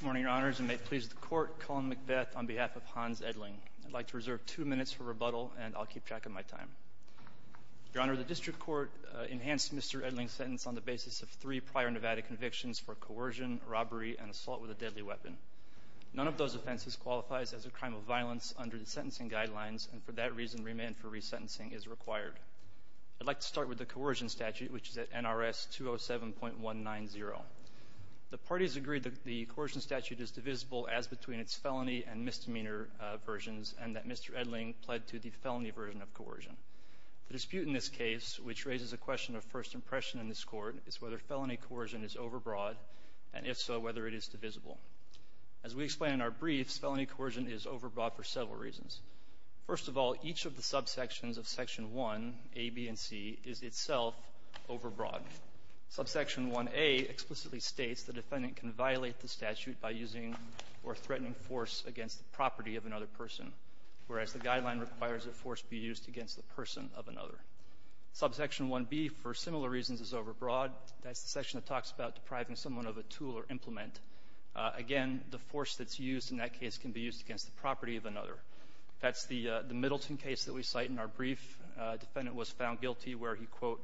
Good morning, Your Honors, and may it please the Court, Colin McBeth on behalf of Hans Edling. I'd like to reserve two minutes for rebuttal, and I'll keep track of my time. Your Honor, the District Court enhanced Mr. Edling's sentence on the basis of three prior Nevada convictions for coercion, robbery, and assault with a deadly weapon. None of those offenses qualifies as a crime of violence under the sentencing guidelines, and for that reason remand for resentencing is required. I'd like to start with the coercion statute, which is at NRS 207.190. The parties agree that the coercion statute is divisible as between its felony and misdemeanor versions and that Mr. Edling pled to the felony version of coercion. The dispute in this case, which raises a question of first impression in this Court, is whether felony coercion is overbroad, and if so, whether it is divisible. As we explain in our briefs, felony coercion is overbroad for several reasons. First of all, each of the subsections of Section 1, A, B, and C, is itself overbroad. Subsection 1A explicitly states the defendant can violate the statute by using or threatening force against the property of another person, whereas the guideline requires a force be used against the person of another. Subsection 1B, for similar reasons, is overbroad. That's the section that talks about depriving someone of a tool or implement. Again, the force that's used in that case can be used against the property of another. That's the Middleton case that we cite in our brief. A defendant was found guilty where he, quote,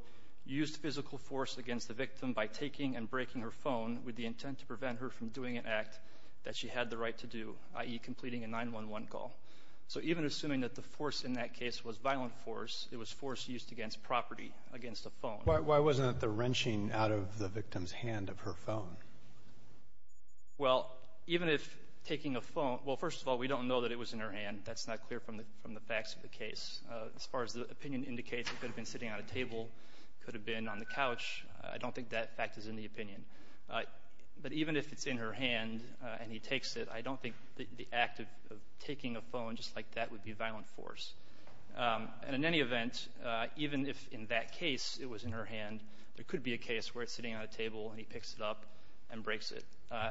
used physical force against the victim by taking and breaking her phone with the intent to prevent her from doing an act that she had the right to do, i.e., completing a 911 call. So even assuming that the force in that case was violent force, it was force used against property, against a phone. Why wasn't it the wrenching out of the victim's hand of her phone? Well, even if taking a phone – well, first of all, we don't know that it was in her hand. That's not clear from the facts of the case. As far as the opinion indicates, it could have been sitting on a table. It could have been on the couch. I don't think that fact is in the opinion. But even if it's in her hand and he takes it, I don't think the act of taking a phone just like that would be violent force. And in any event, even if in that case it was in her hand, there could be a case where it's sitting on a table and he picks it up and breaks it.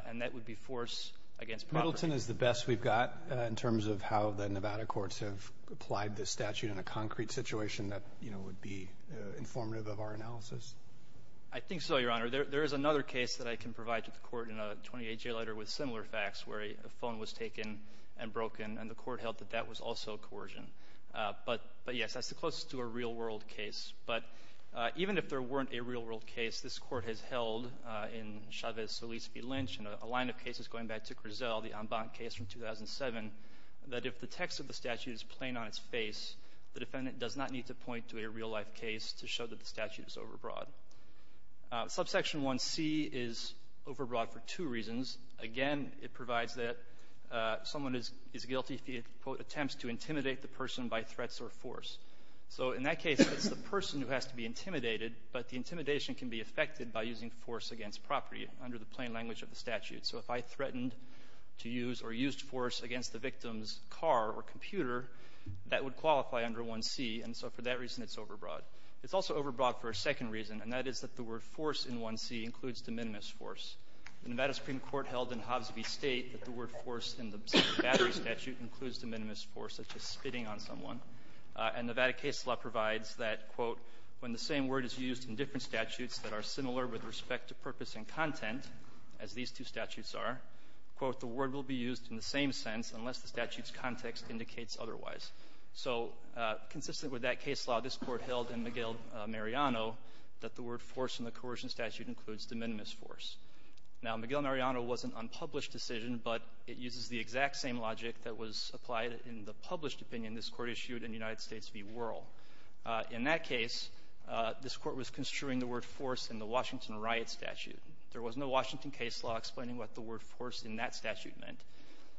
And that would be force against property. So the modelton is the best we've got in terms of how the Nevada courts have applied this statute in a concrete situation that would be informative of our analysis? I think so, Your Honor. There is another case that I can provide to the court in a 28-day letter with similar facts where a phone was taken and broken and the court held that that was also coercion. But, yes, that's the closest to a real-world case. But even if there weren't a real-world case, this Court has held in Chavez-Solis v. Lynch and a line of cases going back to Grisel, the Ambant case from 2007, that if the text of the statute is plain on its face, the defendant does not need to point to a real-life case to show that the statute is overbroad. Subsection 1C is overbroad for two reasons. Again, it provides that someone is guilty if he, quote, attempts to intimidate the person by threats or force. So in that case, it's the person who has to be intimidated, but the intimidation can be affected by using force against property under the plain language of the statute. So if I threatened to use or used force against the victim's car or computer, that would qualify under 1C. And so for that reason, it's overbroad. It's also overbroad for a second reason, and that is that the word force in 1C includes de minimis force. The Nevada Supreme Court held in Hobbs v. State that the word force in the Battery Statute includes de minimis force, such as spitting on someone. And Nevada case law provides that, quote, when the same word is used in different statutes that are similar with respect to purpose and content, as these two statutes are, quote, the word will be used in the same sense unless the statute's context indicates otherwise. So consistent with that case law, this Court held in Miguel Mariano that the word force in the coercion statute includes de minimis force. Now, Miguel Mariano was an unpublished decision, but it uses the exact same logic that was applied in the published opinion this Court issued in United States v. Wuerl. In that case, this Court was construing the word force in the Washington riot statute. There was no Washington case law explaining what the word force in that statute meant.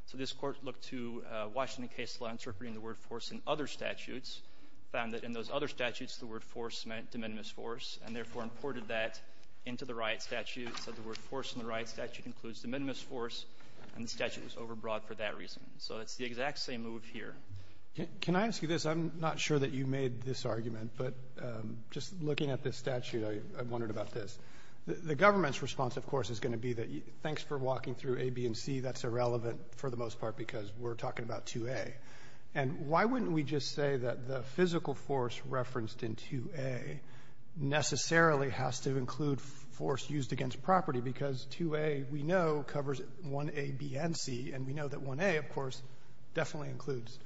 So this Court looked to Washington case law interpreting the word force in other statutes, found that in those other statutes, the word force meant de minimis force, and therefore imported that into the riot statute. So the word force in the riot statute includes de minimis force, and the statute was overbrought for that reason. So it's the exact same move here. Roberts. Can I ask you this? I'm not sure that you made this argument, but just looking at this statute, I wondered about this. The government's response, of course, is going to be that thanks for walking through A, B, and C. That's irrelevant for the most part because we're talking about 2A. And why wouldn't we just say that the physical force referenced in 2A necessarily has to include force used against property because 2A, we know, covers 1A, B, and C. And we know that 1A, of course, definitely includes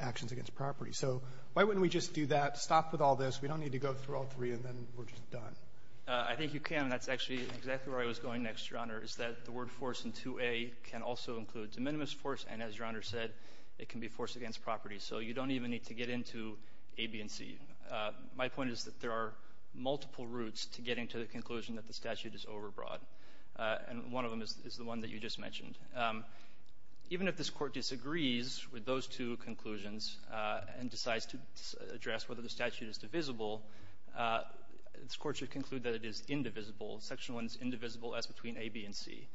actions against property. So why wouldn't we just do that, stop with all this? We don't need to go through all three and then we're just done. I think you can. That's actually exactly where I was going next, Your Honor, is that the word force in 2A can also include de minimis force, and as Your Honor said, it can be force against property. So you don't even need to get into A, B, and C. My point is that there are multiple routes to getting to the conclusion that the statute is overbroad. And one of them is the one that you just mentioned. Even if this Court disagrees with those two conclusions and decides to address whether the statute is divisible, this Court should conclude that it is indivisible, section 1 is indivisible as between A, B, and C.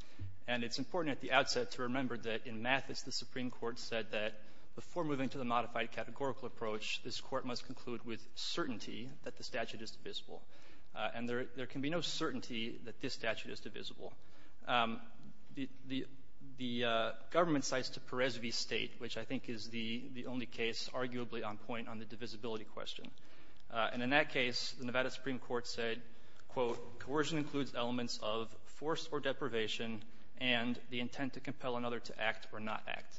And it's important at the outset to remember that in Mathis, the Supreme Court said that before moving to the modified categorical approach, this Court must conclude with certainty that the statute is divisible. And there can be no certainty that this statute is divisible. The government cites to Perez v. State, which I think is the only case arguably on point on the divisibility question. And in that case, the Nevada Supreme Court said, quote, coercion includes elements of force or deprivation and the intent to compel another to act or not act.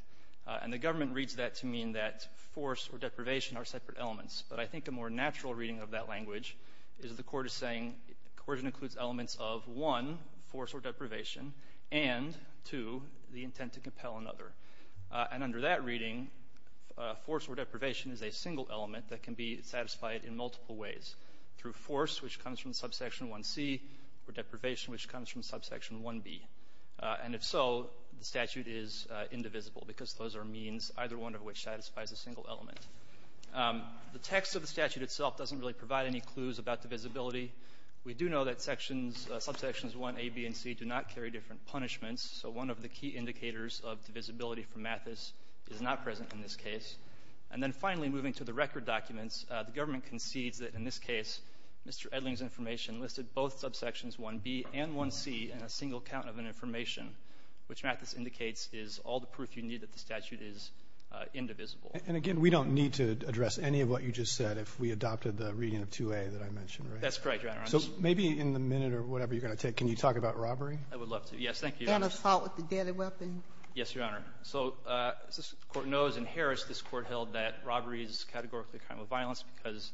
And the government reads that to mean that force or deprivation are separate elements. But I think a more natural reading of that language is the Court is saying coercion includes elements of, one, force or deprivation, and, two, the intent to compel another. And under that reading, force or deprivation is a single element that can be satisfied in multiple ways, through force, which comes from subsection 1C, or deprivation, which comes from subsection 1B. And if so, the statute is indivisible because those are means, either one of which satisfies a single element. The text of the statute itself doesn't really provide any clues about divisibility. We do know that sections, subsections 1A, B, and C do not carry different punishments, so one of the key indicators of divisibility for Mathis is not present in this case. And then finally, moving to the record documents, the government concedes that in this case, Mr. Edling's information listed both subsections 1B and 1C in a single count of an information, which Mathis indicates is all the proof you need that the statute is indivisible. And again, we don't need to address any of what you just said if we adopted the reading of 2A that I mentioned, right? That's correct, Your Honor. So maybe in the minute or whatever you're going to take, can you talk about robbery? I would love to. Yes, thank you, Your Honor. And assault with a deadly weapon? Yes, Your Honor. So as this Court knows, in Harris, this Court held that robbery is categorically a crime of violence because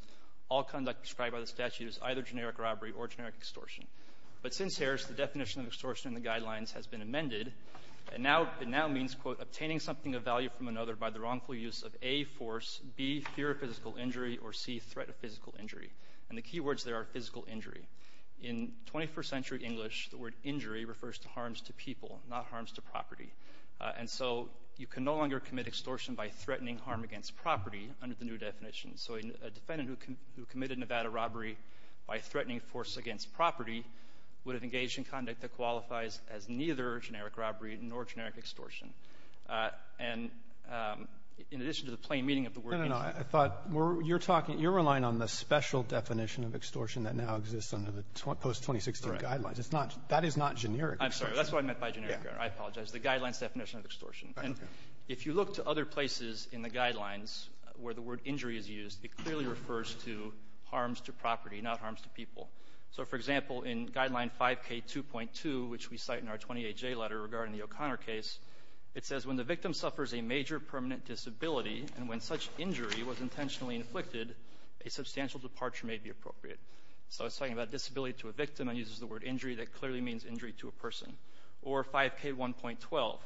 all conduct described by the statute is either generic has been amended. It now means, quote, obtaining something of value from another by the wrongful use of, A, force, B, fear of physical injury, or C, threat of physical injury. And the key words there are physical injury. In 21st century English, the word injury refers to harms to people, not harms to property. And so you can no longer commit extortion by threatening harm against property under the new definition. So a defendant who committed Nevada robbery by threatening force against property would have engaged in conduct that qualifies as neither generic robbery nor generic extortion. And in addition to the plain meaning of the word injury — No, no, no. I thought you're talking — you're relying on the special definition of extortion that now exists under the post-2016 guidelines. Correct. It's not — that is not generic extortion. I'm sorry. That's what I meant by generic, Your Honor. I apologize. The guideline's definition of extortion. Okay. And if you look to other places in the guidelines where the word injury is used, it clearly refers to harms to property, not harms to people. So, for example, in Guideline 5K2.2, which we cite in our 28J letter regarding the O'Connor case, it says, when the victim suffers a major permanent disability and when such injury was intentionally inflicted, a substantial departure may be appropriate. So it's talking about disability to a victim and uses the word injury that clearly means injury to a person. Or 5K1.12,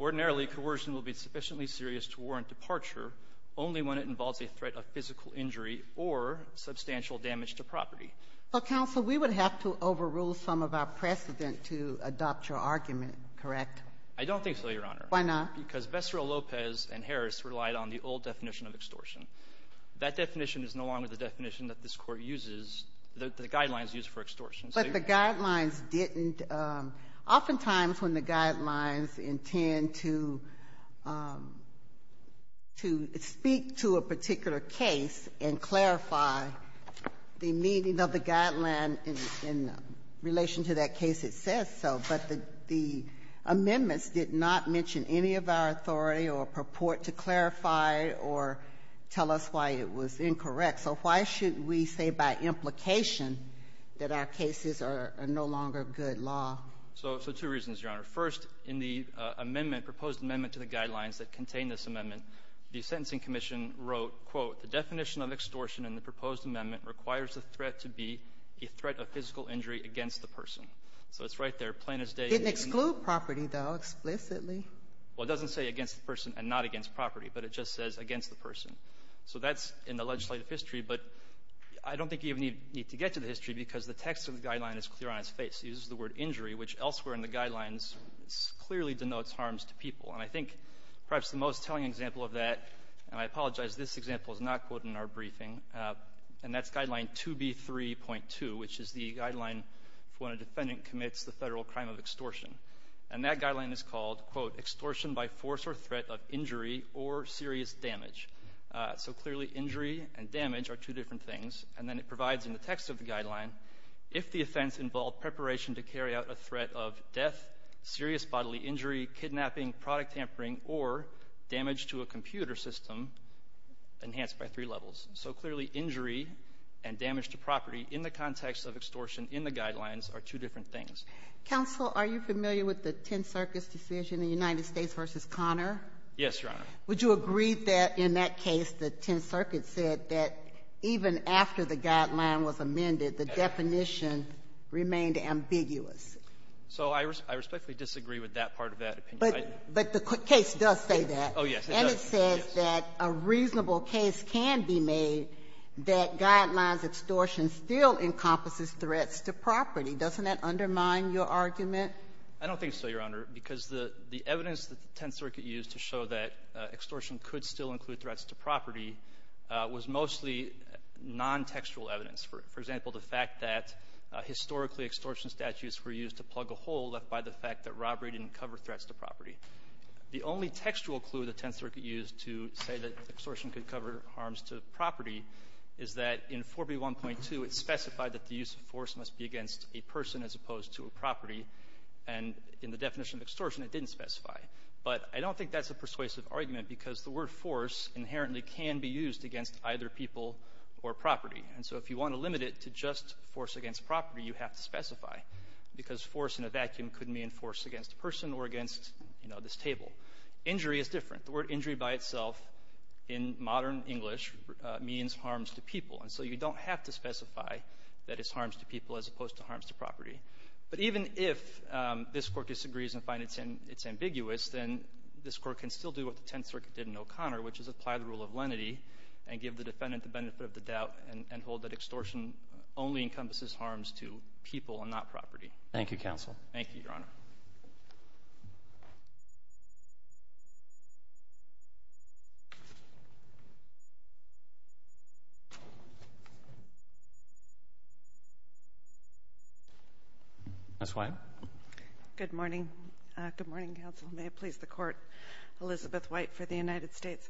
ordinarily coercion will be sufficiently serious to warrant departure only when it involves a threat of physical injury or substantial damage to property. So, counsel, we would have to overrule some of our precedent to adopt your argument, correct? I don't think so, Your Honor. Why not? Because Veserell Lopez and Harris relied on the old definition of extortion. That definition is no longer the definition that this Court uses, the guidelines used for extortion. But the guidelines didn't — oftentimes when the guidelines intend to — to speak to a particular case and clarify the meaning of the guideline in — in relation to that case, it says so. But the — the amendments did not mention any of our authority or purport to clarify or tell us why it was incorrect. So why should we say by implication that our cases are no longer good law? So — so two reasons, Your Honor. First, in the amendment, proposed amendment to the guidelines that contain this amendment, the Sentencing Commission wrote, quote, the definition of extortion in the proposed amendment requires the threat to be a threat of physical injury against the person. So it's right there, plain as day. It didn't exclude property, though, explicitly. Well, it doesn't say against the person and not against property, but it just says against the person. So that's in the legislative history. But I don't think you even need to get to the history because the text of the guideline is clear on its face. It uses the word injury, which elsewhere in the guidelines clearly denotes harms to people. And I think perhaps the most telling example of that, and I apologize, this example is not quoted in our briefing, and that's Guideline 2B3.2, which is the guideline for when a defendant commits the Federal crime of extortion. And that guideline is called, quote, extortion by force or threat of injury or serious damage. So clearly injury and damage are two different things. And then it provides in the text of the guideline, if the offense involved preparation to carry out a threat of death, serious bodily injury, kidnapping, product tampering, or damage to a computer system enhanced by three levels. So clearly injury and damage to property in the context of extortion in the guidelines are two different things. Counsel, are you familiar with the Tenth Circuit's decision, the United States v. Conner? Yes, Your Honor. Would you agree that in that case the Tenth Circuit said that even after the guideline was amended, the definition remained ambiguous? So I respectfully disagree with that part of that opinion. But the case does say that. Oh, yes. And it says that a reasonable case can be made that guidelines extortion still encompasses threats to property. Doesn't that undermine your argument? I don't think so, Your Honor. Because the evidence that the Tenth Circuit used to show that extortion could still include threats to property was mostly nontextual evidence. For example, the fact that historically extortion statutes were used to plug a hole left by the fact that robbery didn't cover threats to property. The only textual clue the Tenth Circuit used to say that extortion could cover harms to property is that in 4B1.2 it specified that the use of force must be against a person as opposed to a property, and in the definition of extortion it didn't specify. But I don't think that's a persuasive argument, because the word force inherently can be used against either people or property. And so if you want to limit it to just force against property, you have to specify, because force in a vacuum could mean force against a person or against, you know, this table. Injury is different. The word injury by itself in modern English means harms to people. And so you don't have to specify that it's harms to people as opposed to harms to property. But even if this Court disagrees and finds it's ambiguous, then this Court can still do what the Tenth Circuit did in O'Connor, which is apply the rule of lenity and give the defendant the benefit of the doubt and hold that extortion only encompasses harms to people and not property. Thank you, counsel. Thank you, Your Honor. Ms. White. Good morning. Good morning, counsel. May it please the Court. Elizabeth White for the United States.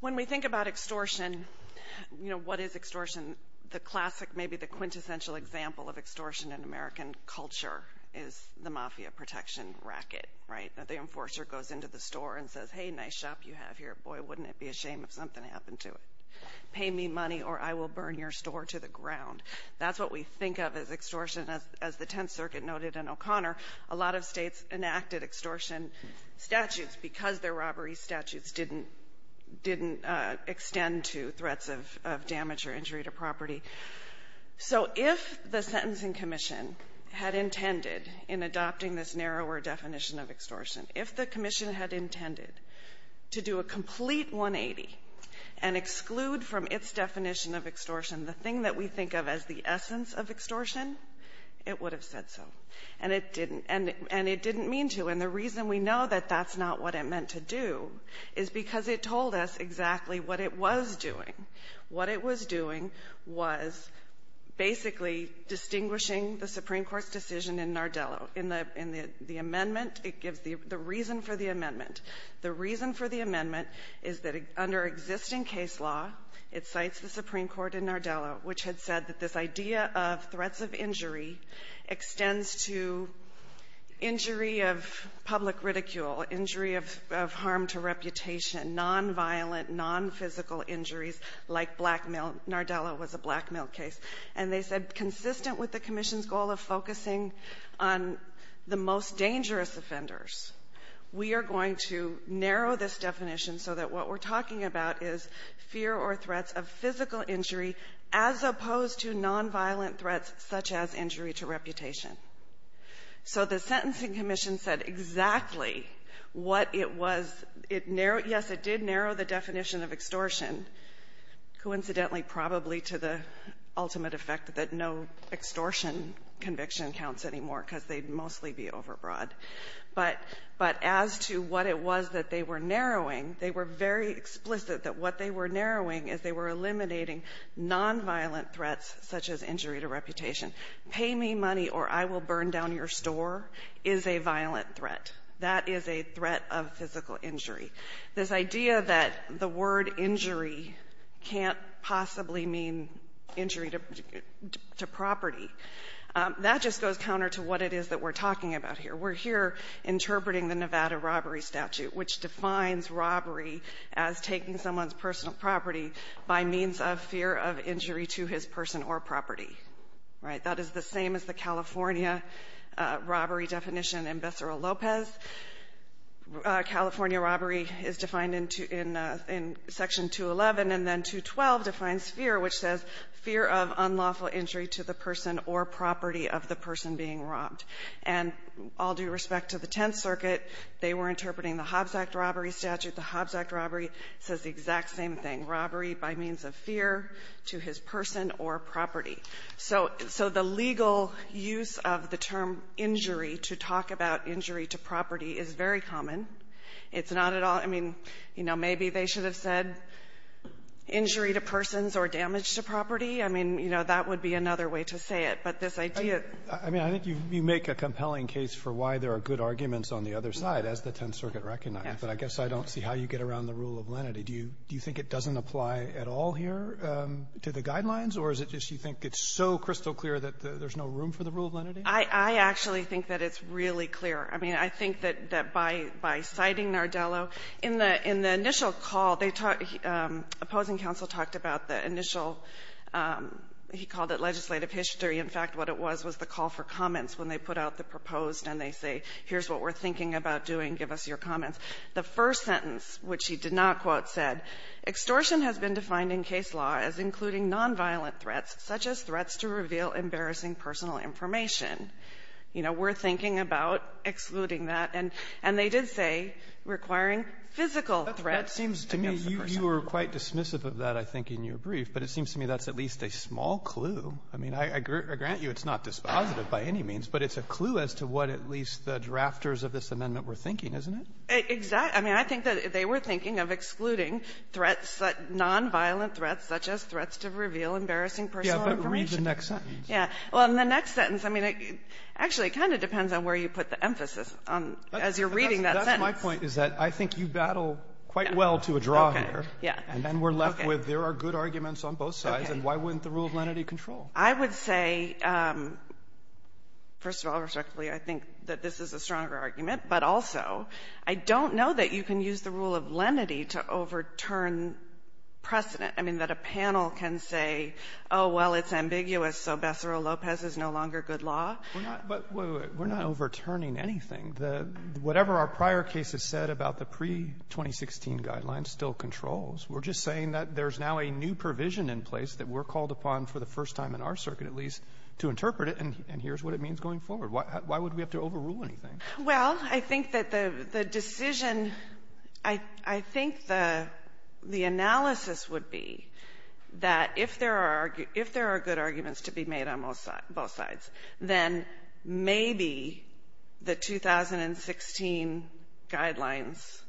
When we think about extortion, you know, what is extortion? The classic, maybe the quintessential example of extortion in American culture is the mafia protection racket, right? The enforcer goes into the store and says, hey, nice shop you have here. Boy, wouldn't it be a shame if something happened to it. Pay me money or I will burn your store to the ground. That's what we think of as extortion. As the Tenth Circuit noted in O'Connor, a lot of States enacted extortion statutes because their robbery statutes didn't extend to threats of damage or injury to property. So if the Sentencing Commission had intended in adopting this narrower definition of extortion, if the commission had intended to do a complete 180 and exclude from its definition of extortion the thing that we think of as the essence of extortion, it would have said so. And it didn't. And it didn't mean to. And the reason we know that that's not what it meant to do is because it told us exactly what it was doing. What it was doing was basically distinguishing the Supreme Court's decision in Nardello. In the amendment, it gives the reason for the amendment. The reason for the amendment is that under existing case law, it cites the Supreme Court in Nardello, which had said that this idea of nonviolent, nonphysical injuries like blackmail, Nardello was a blackmail case, and they said consistent with the commission's goal of focusing on the most dangerous offenders, we are going to narrow this definition so that what we're talking about is fear or threats of physical injury as opposed to nonviolent threats such as injury to reputation. So the sentencing commission said exactly what it was. Yes, it did narrow the definition of extortion, coincidentally probably to the ultimate effect that no extortion conviction counts anymore because they'd mostly be overbroad. But as to what it was that they were narrowing, they were very explicit that what they were narrowing is they were eliminating nonviolent threats such as injury to reputation. Pay me money or I will burn down your store is a violent threat. That is a threat of physical injury. This idea that the word injury can't possibly mean injury to property, that just goes counter to what it is that we're talking about here. We're here interpreting the Nevada robbery statute, which defines robbery as taking someone's personal property by means of fear of injury to his person or property, right? That is the same as the California robbery definition in Becerra-Lopez. California robbery is defined in Section 211, and then 212 defines fear, which says fear of unlawful injury to the person or property of the person being robbed. And all due respect to the Tenth Circuit, they were interpreting the Hobbs Act robbery statute. The Hobbs Act robbery says the exact same thing, robbery by means of fear to his person or property. So the legal use of the term injury to talk about injury to property is very common. It's not at all, I mean, you know, maybe they should have said injury to persons or damage to property. I mean, you know, that would be another way to say it. But this idea of ---- Roberts, I mean, I think you make a compelling case for why there are good arguments on the other side, as the Tenth Circuit recognized. But I guess I don't see how you get around the rule of lenity. Do you think it doesn't apply at all here to the guidelines, or is it just you think it's so crystal clear that there's no room for the rule of lenity? I actually think that it's really clear. I mean, I think that by citing Nardello, in the initial call, they talked ---- Opposing Counsel talked about the initial ---- he called it legislative history. In fact, what it was was the call for comments when they put out the proposed and they say, here's what we're thinking about doing, give us your comments. The first sentence, which he did not quote, said, extortion has been defined in case law as including nonviolent threats, such as threats to reveal embarrassing personal information. You know, we're thinking about excluding that. And they did say requiring physical threats to give the person ---- Roberts, that seems to me you were quite dismissive of that, I think, in your brief. But it seems to me that's at least a small clue. I mean, I grant you it's not dispositive by any means, but it's a clue as to what at least the drafters of this amendment were thinking, isn't it? Exactly. I mean, I think that they were thinking of excluding threats, nonviolent threats, such as threats to reveal embarrassing personal information. Yeah, but read the next sentence. Yeah. Well, in the next sentence, I mean, actually, it kind of depends on where you put the emphasis on, as you're reading that sentence. That's my point, is that I think you battle quite well to a draw here. Okay. Yeah. And then we're left with there are good arguments on both sides, and why wouldn't the rule of lenity control? I would say, first of all, respectfully, I think that this is a stronger argument. But also, I don't know that you can use the rule of lenity to overturn precedent. I mean, that a panel can say, oh, well, it's ambiguous, so Becerra-Lopez is no longer good law. We're not — but wait, wait, wait. We're not overturning anything. The — whatever our prior case has said about the pre-2016 guidelines still controls. We're just saying that there's now a new provision in place that we're called upon for the first time in our circuit, at least, to interpret it, and here's what it means going forward. Why would we have to overrule anything? Well, I think that the decision — I think the analysis would be that if there are good arguments to be made on both sides, then maybe the 2016 guidelines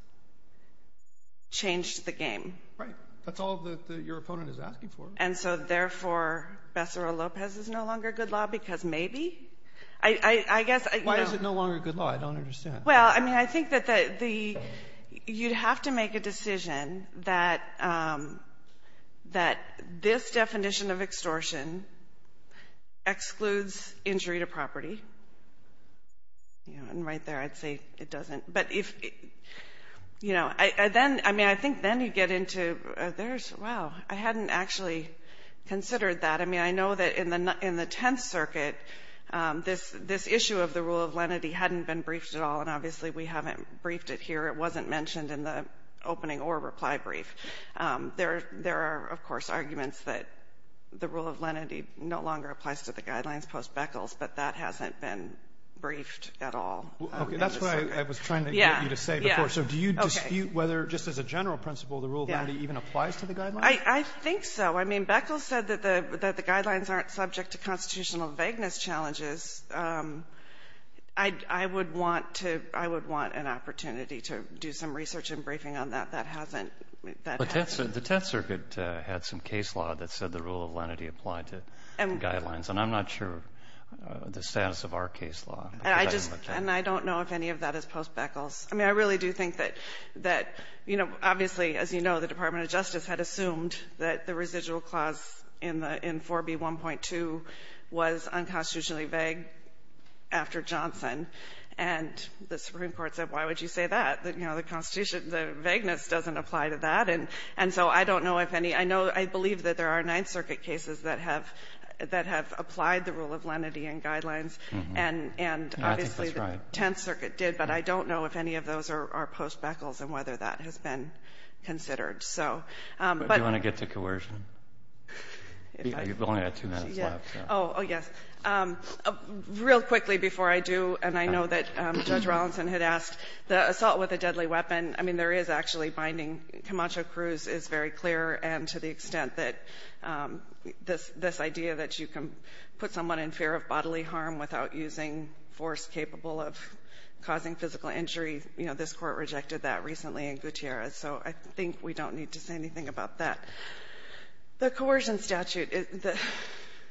changed the game. Right. That's all that your opponent is asking for. And so, therefore, Becerra-Lopez is no longer good law because maybe? I guess — Why is it no longer good law? I don't understand. Well, I mean, I think that the — you'd have to make a decision that this definition of extortion excludes injury to property. You know, and right there, I'd say it doesn't. But if — you know, then — I mean, I think then you get into — there's — wow. I hadn't actually considered that. I know that in the Tenth Circuit, this issue of the rule of lenity hadn't been briefed at all, and obviously we haven't briefed it here. It wasn't mentioned in the opening or reply brief. There are, of course, arguments that the rule of lenity no longer applies to the Guidelines post-Beckles, but that hasn't been briefed at all. Okay. That's what I was trying to get you to say before. So do you dispute whether, just as a general principle, the rule of lenity even applies to the Guidelines? I think so. I mean, Beckles said that the Guidelines aren't subject to constitutional vagueness challenges. I would want to — I would want an opportunity to do some research and briefing on that. That hasn't — But the Tenth Circuit had some case law that said the rule of lenity applied to the Guidelines, and I'm not sure of the status of our case law. I just — and I don't know if any of that is post-Beckles. I mean, I really do think that — you know, obviously, as you know, the Department of Justice rule clause in the — in 4B1.2 was unconstitutionally vague after Johnson. And the Supreme Court said, why would you say that? You know, the Constitution — the vagueness doesn't apply to that. And so I don't know if any — I know — I believe that there are Ninth Circuit cases that have — that have applied the rule of lenity in Guidelines, and — And I think that's right. Obviously, the Tenth Circuit did, but I don't know if any of those are post-Beckles and whether that has been considered. So, but — But do you want to get to coercion? You've only got two minutes left. Oh, yes. Real quickly before I do, and I know that Judge Rawlinson had asked, the assault with a deadly weapon, I mean, there is actually binding. Camacho-Cruz is very clear, and to the extent that this — this idea that you can put someone in fear of bodily harm without using force capable of causing physical injury, you know, this Court rejected that recently in Gutierrez. So I think we don't need to say anything about that. The coercion statute, the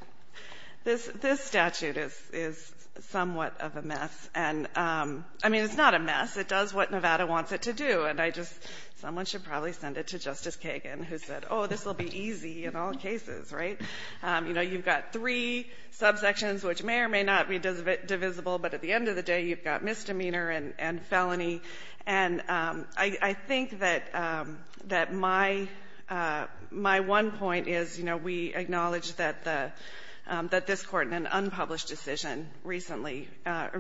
— this — this statute is — is somewhat of a mess. And, I mean, it's not a mess. It does what Nevada wants it to do. And I just — someone should probably send it to Justice Kagan, who said, oh, this will be easy in all cases, right? You know, you've got three subsections, which may or may not be divisible. But at the end of the day, you've got misdemeanor and — and felony. And I — I think that — that my — my one point is, you know, we acknowledge that the — that this Court in an unpublished decision recently — I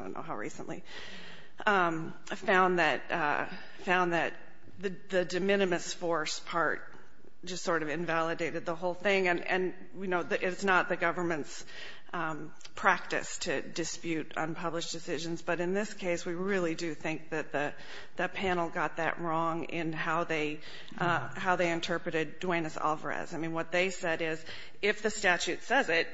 don't know how recently — found that — found that the de minimis force part just sort of invalidated the whole thing, and — and, you know, it's not the government's practice to dispute unpublished decisions. But in this case, we really do think that the — that panel got that wrong in how they — how they interpreted Duenas-Alvarez. I mean, what they said is, if the statute says it,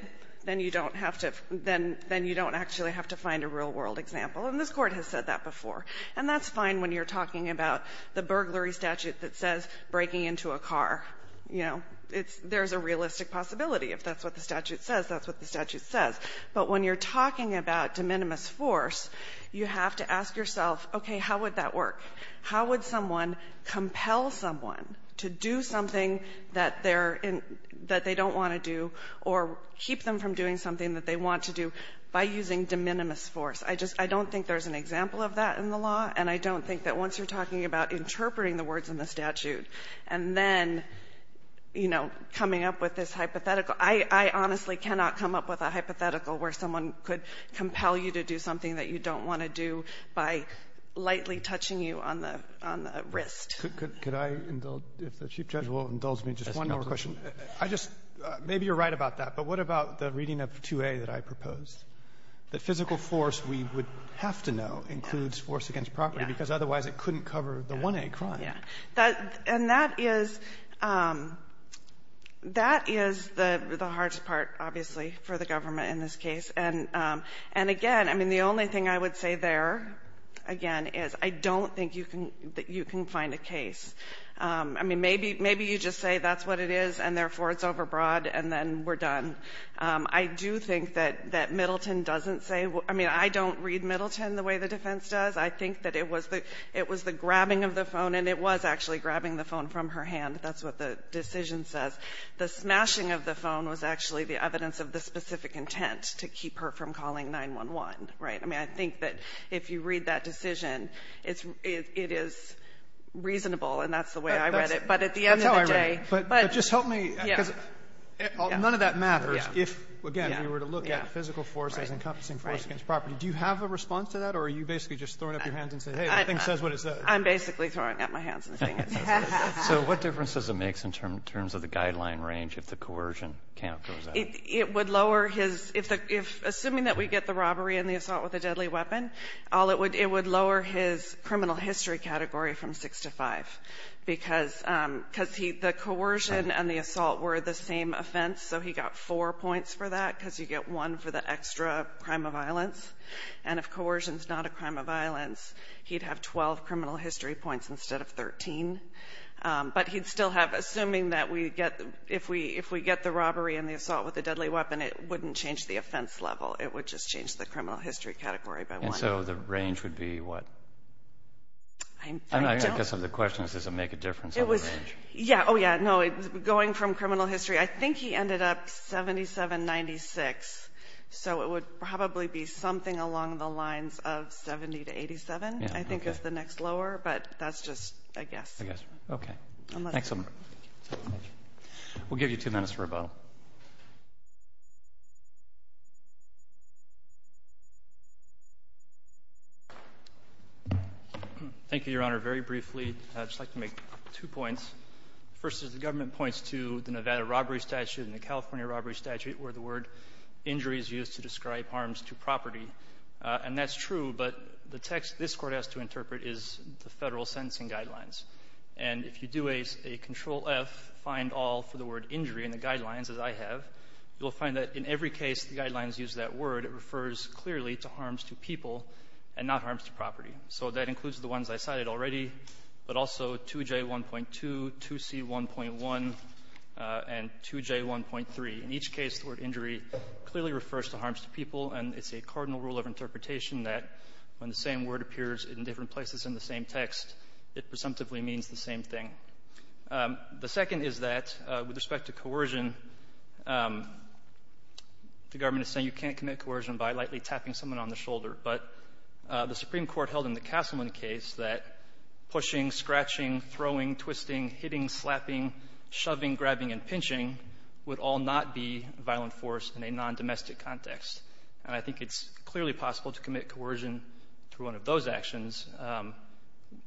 then you don't have to — then — then you don't actually have to find a real-world example. And this Court has said that before. And that's fine when you're talking about the burglary statute that says breaking into a car. You know, it's — there's a realistic possibility. If that's what the statute says, that's what the statute says. But when you're talking about de minimis force, you have to ask yourself, okay, how would that work? How would someone compel someone to do something that they're in — that they don't want to do or keep them from doing something that they want to do by using de minimis force? I just — I don't think there's an example of that in the law, and I don't think that once you're talking about interpreting the words in the statute and then, you know, coming up with this hypothetical, I honestly cannot come up with a hypothetical where someone could compel you to do something that you don't want to do by lightly touching you on the — on the wrist. Roberts. Could I indulge — if the Chief Judge will indulge me, just one more question. I just — maybe you're right about that, but what about the reading of 2A that I proposed, that physical force, we would have to know, includes force against property, because otherwise it couldn't cover the 1A crime? Yeah. And that is — that is the hardest part, obviously, for the government in this case. And again, I mean, the only thing I would say there, again, is I don't think you can — that you can find a case. I mean, maybe — maybe you just say that's what it is, and therefore it's overbroad, and then we're done. I do think that — that Middleton doesn't say — I mean, I don't read Middleton the way the defense does. I think that it was the — it was the grabbing of the phone, and it was actually grabbing the phone from her hand. That's what the decision says. The smashing of the phone was actually the evidence of the specific intent to keep her from calling 911, right? I mean, I think that if you read that decision, it's — it is reasonable, and that's the way I read it. But at the end of the day — But just help me, because none of that matters if, again, we were to look at physical force as encompassing force against property. Do you have a response to that, or are you basically just throwing up your hands and saying, hey, the thing says what it says? I'm basically throwing up my hands and saying it says what it says. So what difference does it make in terms of the guideline range if the coercion count goes up? It would lower his — if the — if — assuming that we get the robbery and the assault with a deadly weapon, all it would — it would lower his criminal history category from 6 to 5, because — because he — the coercion and the assault were the same offense, so he got four points for that, because you get one for the extra crime of violence. And if coercion's not a crime of violence, he'd have 12 criminal history points instead of 13. But he'd still have — assuming that we get — if we — if we get the robbery and the assault with a deadly weapon, it wouldn't change the offense level. It would just change the criminal history category by one. And so the range would be what? I don't — I guess the question is, does it make a difference on the range? Yeah. Oh, yeah. No, going from criminal history, I think he ended up 7796, so it would probably be something along the lines of 70 to 87, I think, is the next lower, but that's just a guess. I guess. Okay. Thanks so much. We'll give you two minutes for a vote. Thank you, Your Honor. Very briefly, I'd just like to make two points. First is the government points to the Nevada robbery statute and the California robbery statute where the word injury is used to describe harms to property. And that's true, but the text this Court has to interpret is the Federal sentencing guidelines. And if you do a — a Control-F, find all for the word injury in the guidelines as I have, you'll find that in every case the guidelines use that word, it refers clearly to harms to people and not harms to property. So that includes the ones I cited already, but also 2J1.2, 2C1.1, and 2J1.3. In each case, the word injury clearly refers to harms to people, and it's a cardinal rule of interpretation that when the same word appears in different places in the same text, it presumptively means the same thing. The second is that with respect to coercion, the government is saying you can't commit coercion by lightly tapping someone on the shoulder. But the Supreme Court held in the Castleman case that pushing, scratching, throwing, twisting, hitting, slapping, shoving, grabbing, and pinching would all not be violent force in a non-domestic context. And I think it's clearly possible to commit coercion through one of those actions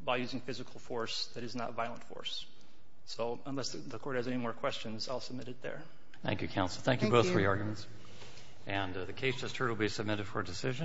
by using physical force that is not violent force. So unless the Court has any more questions, I'll submit it there. Thank you, Counsel. Thank you, both of your arguments. Thank you. And the case just heard will be submitted for decision.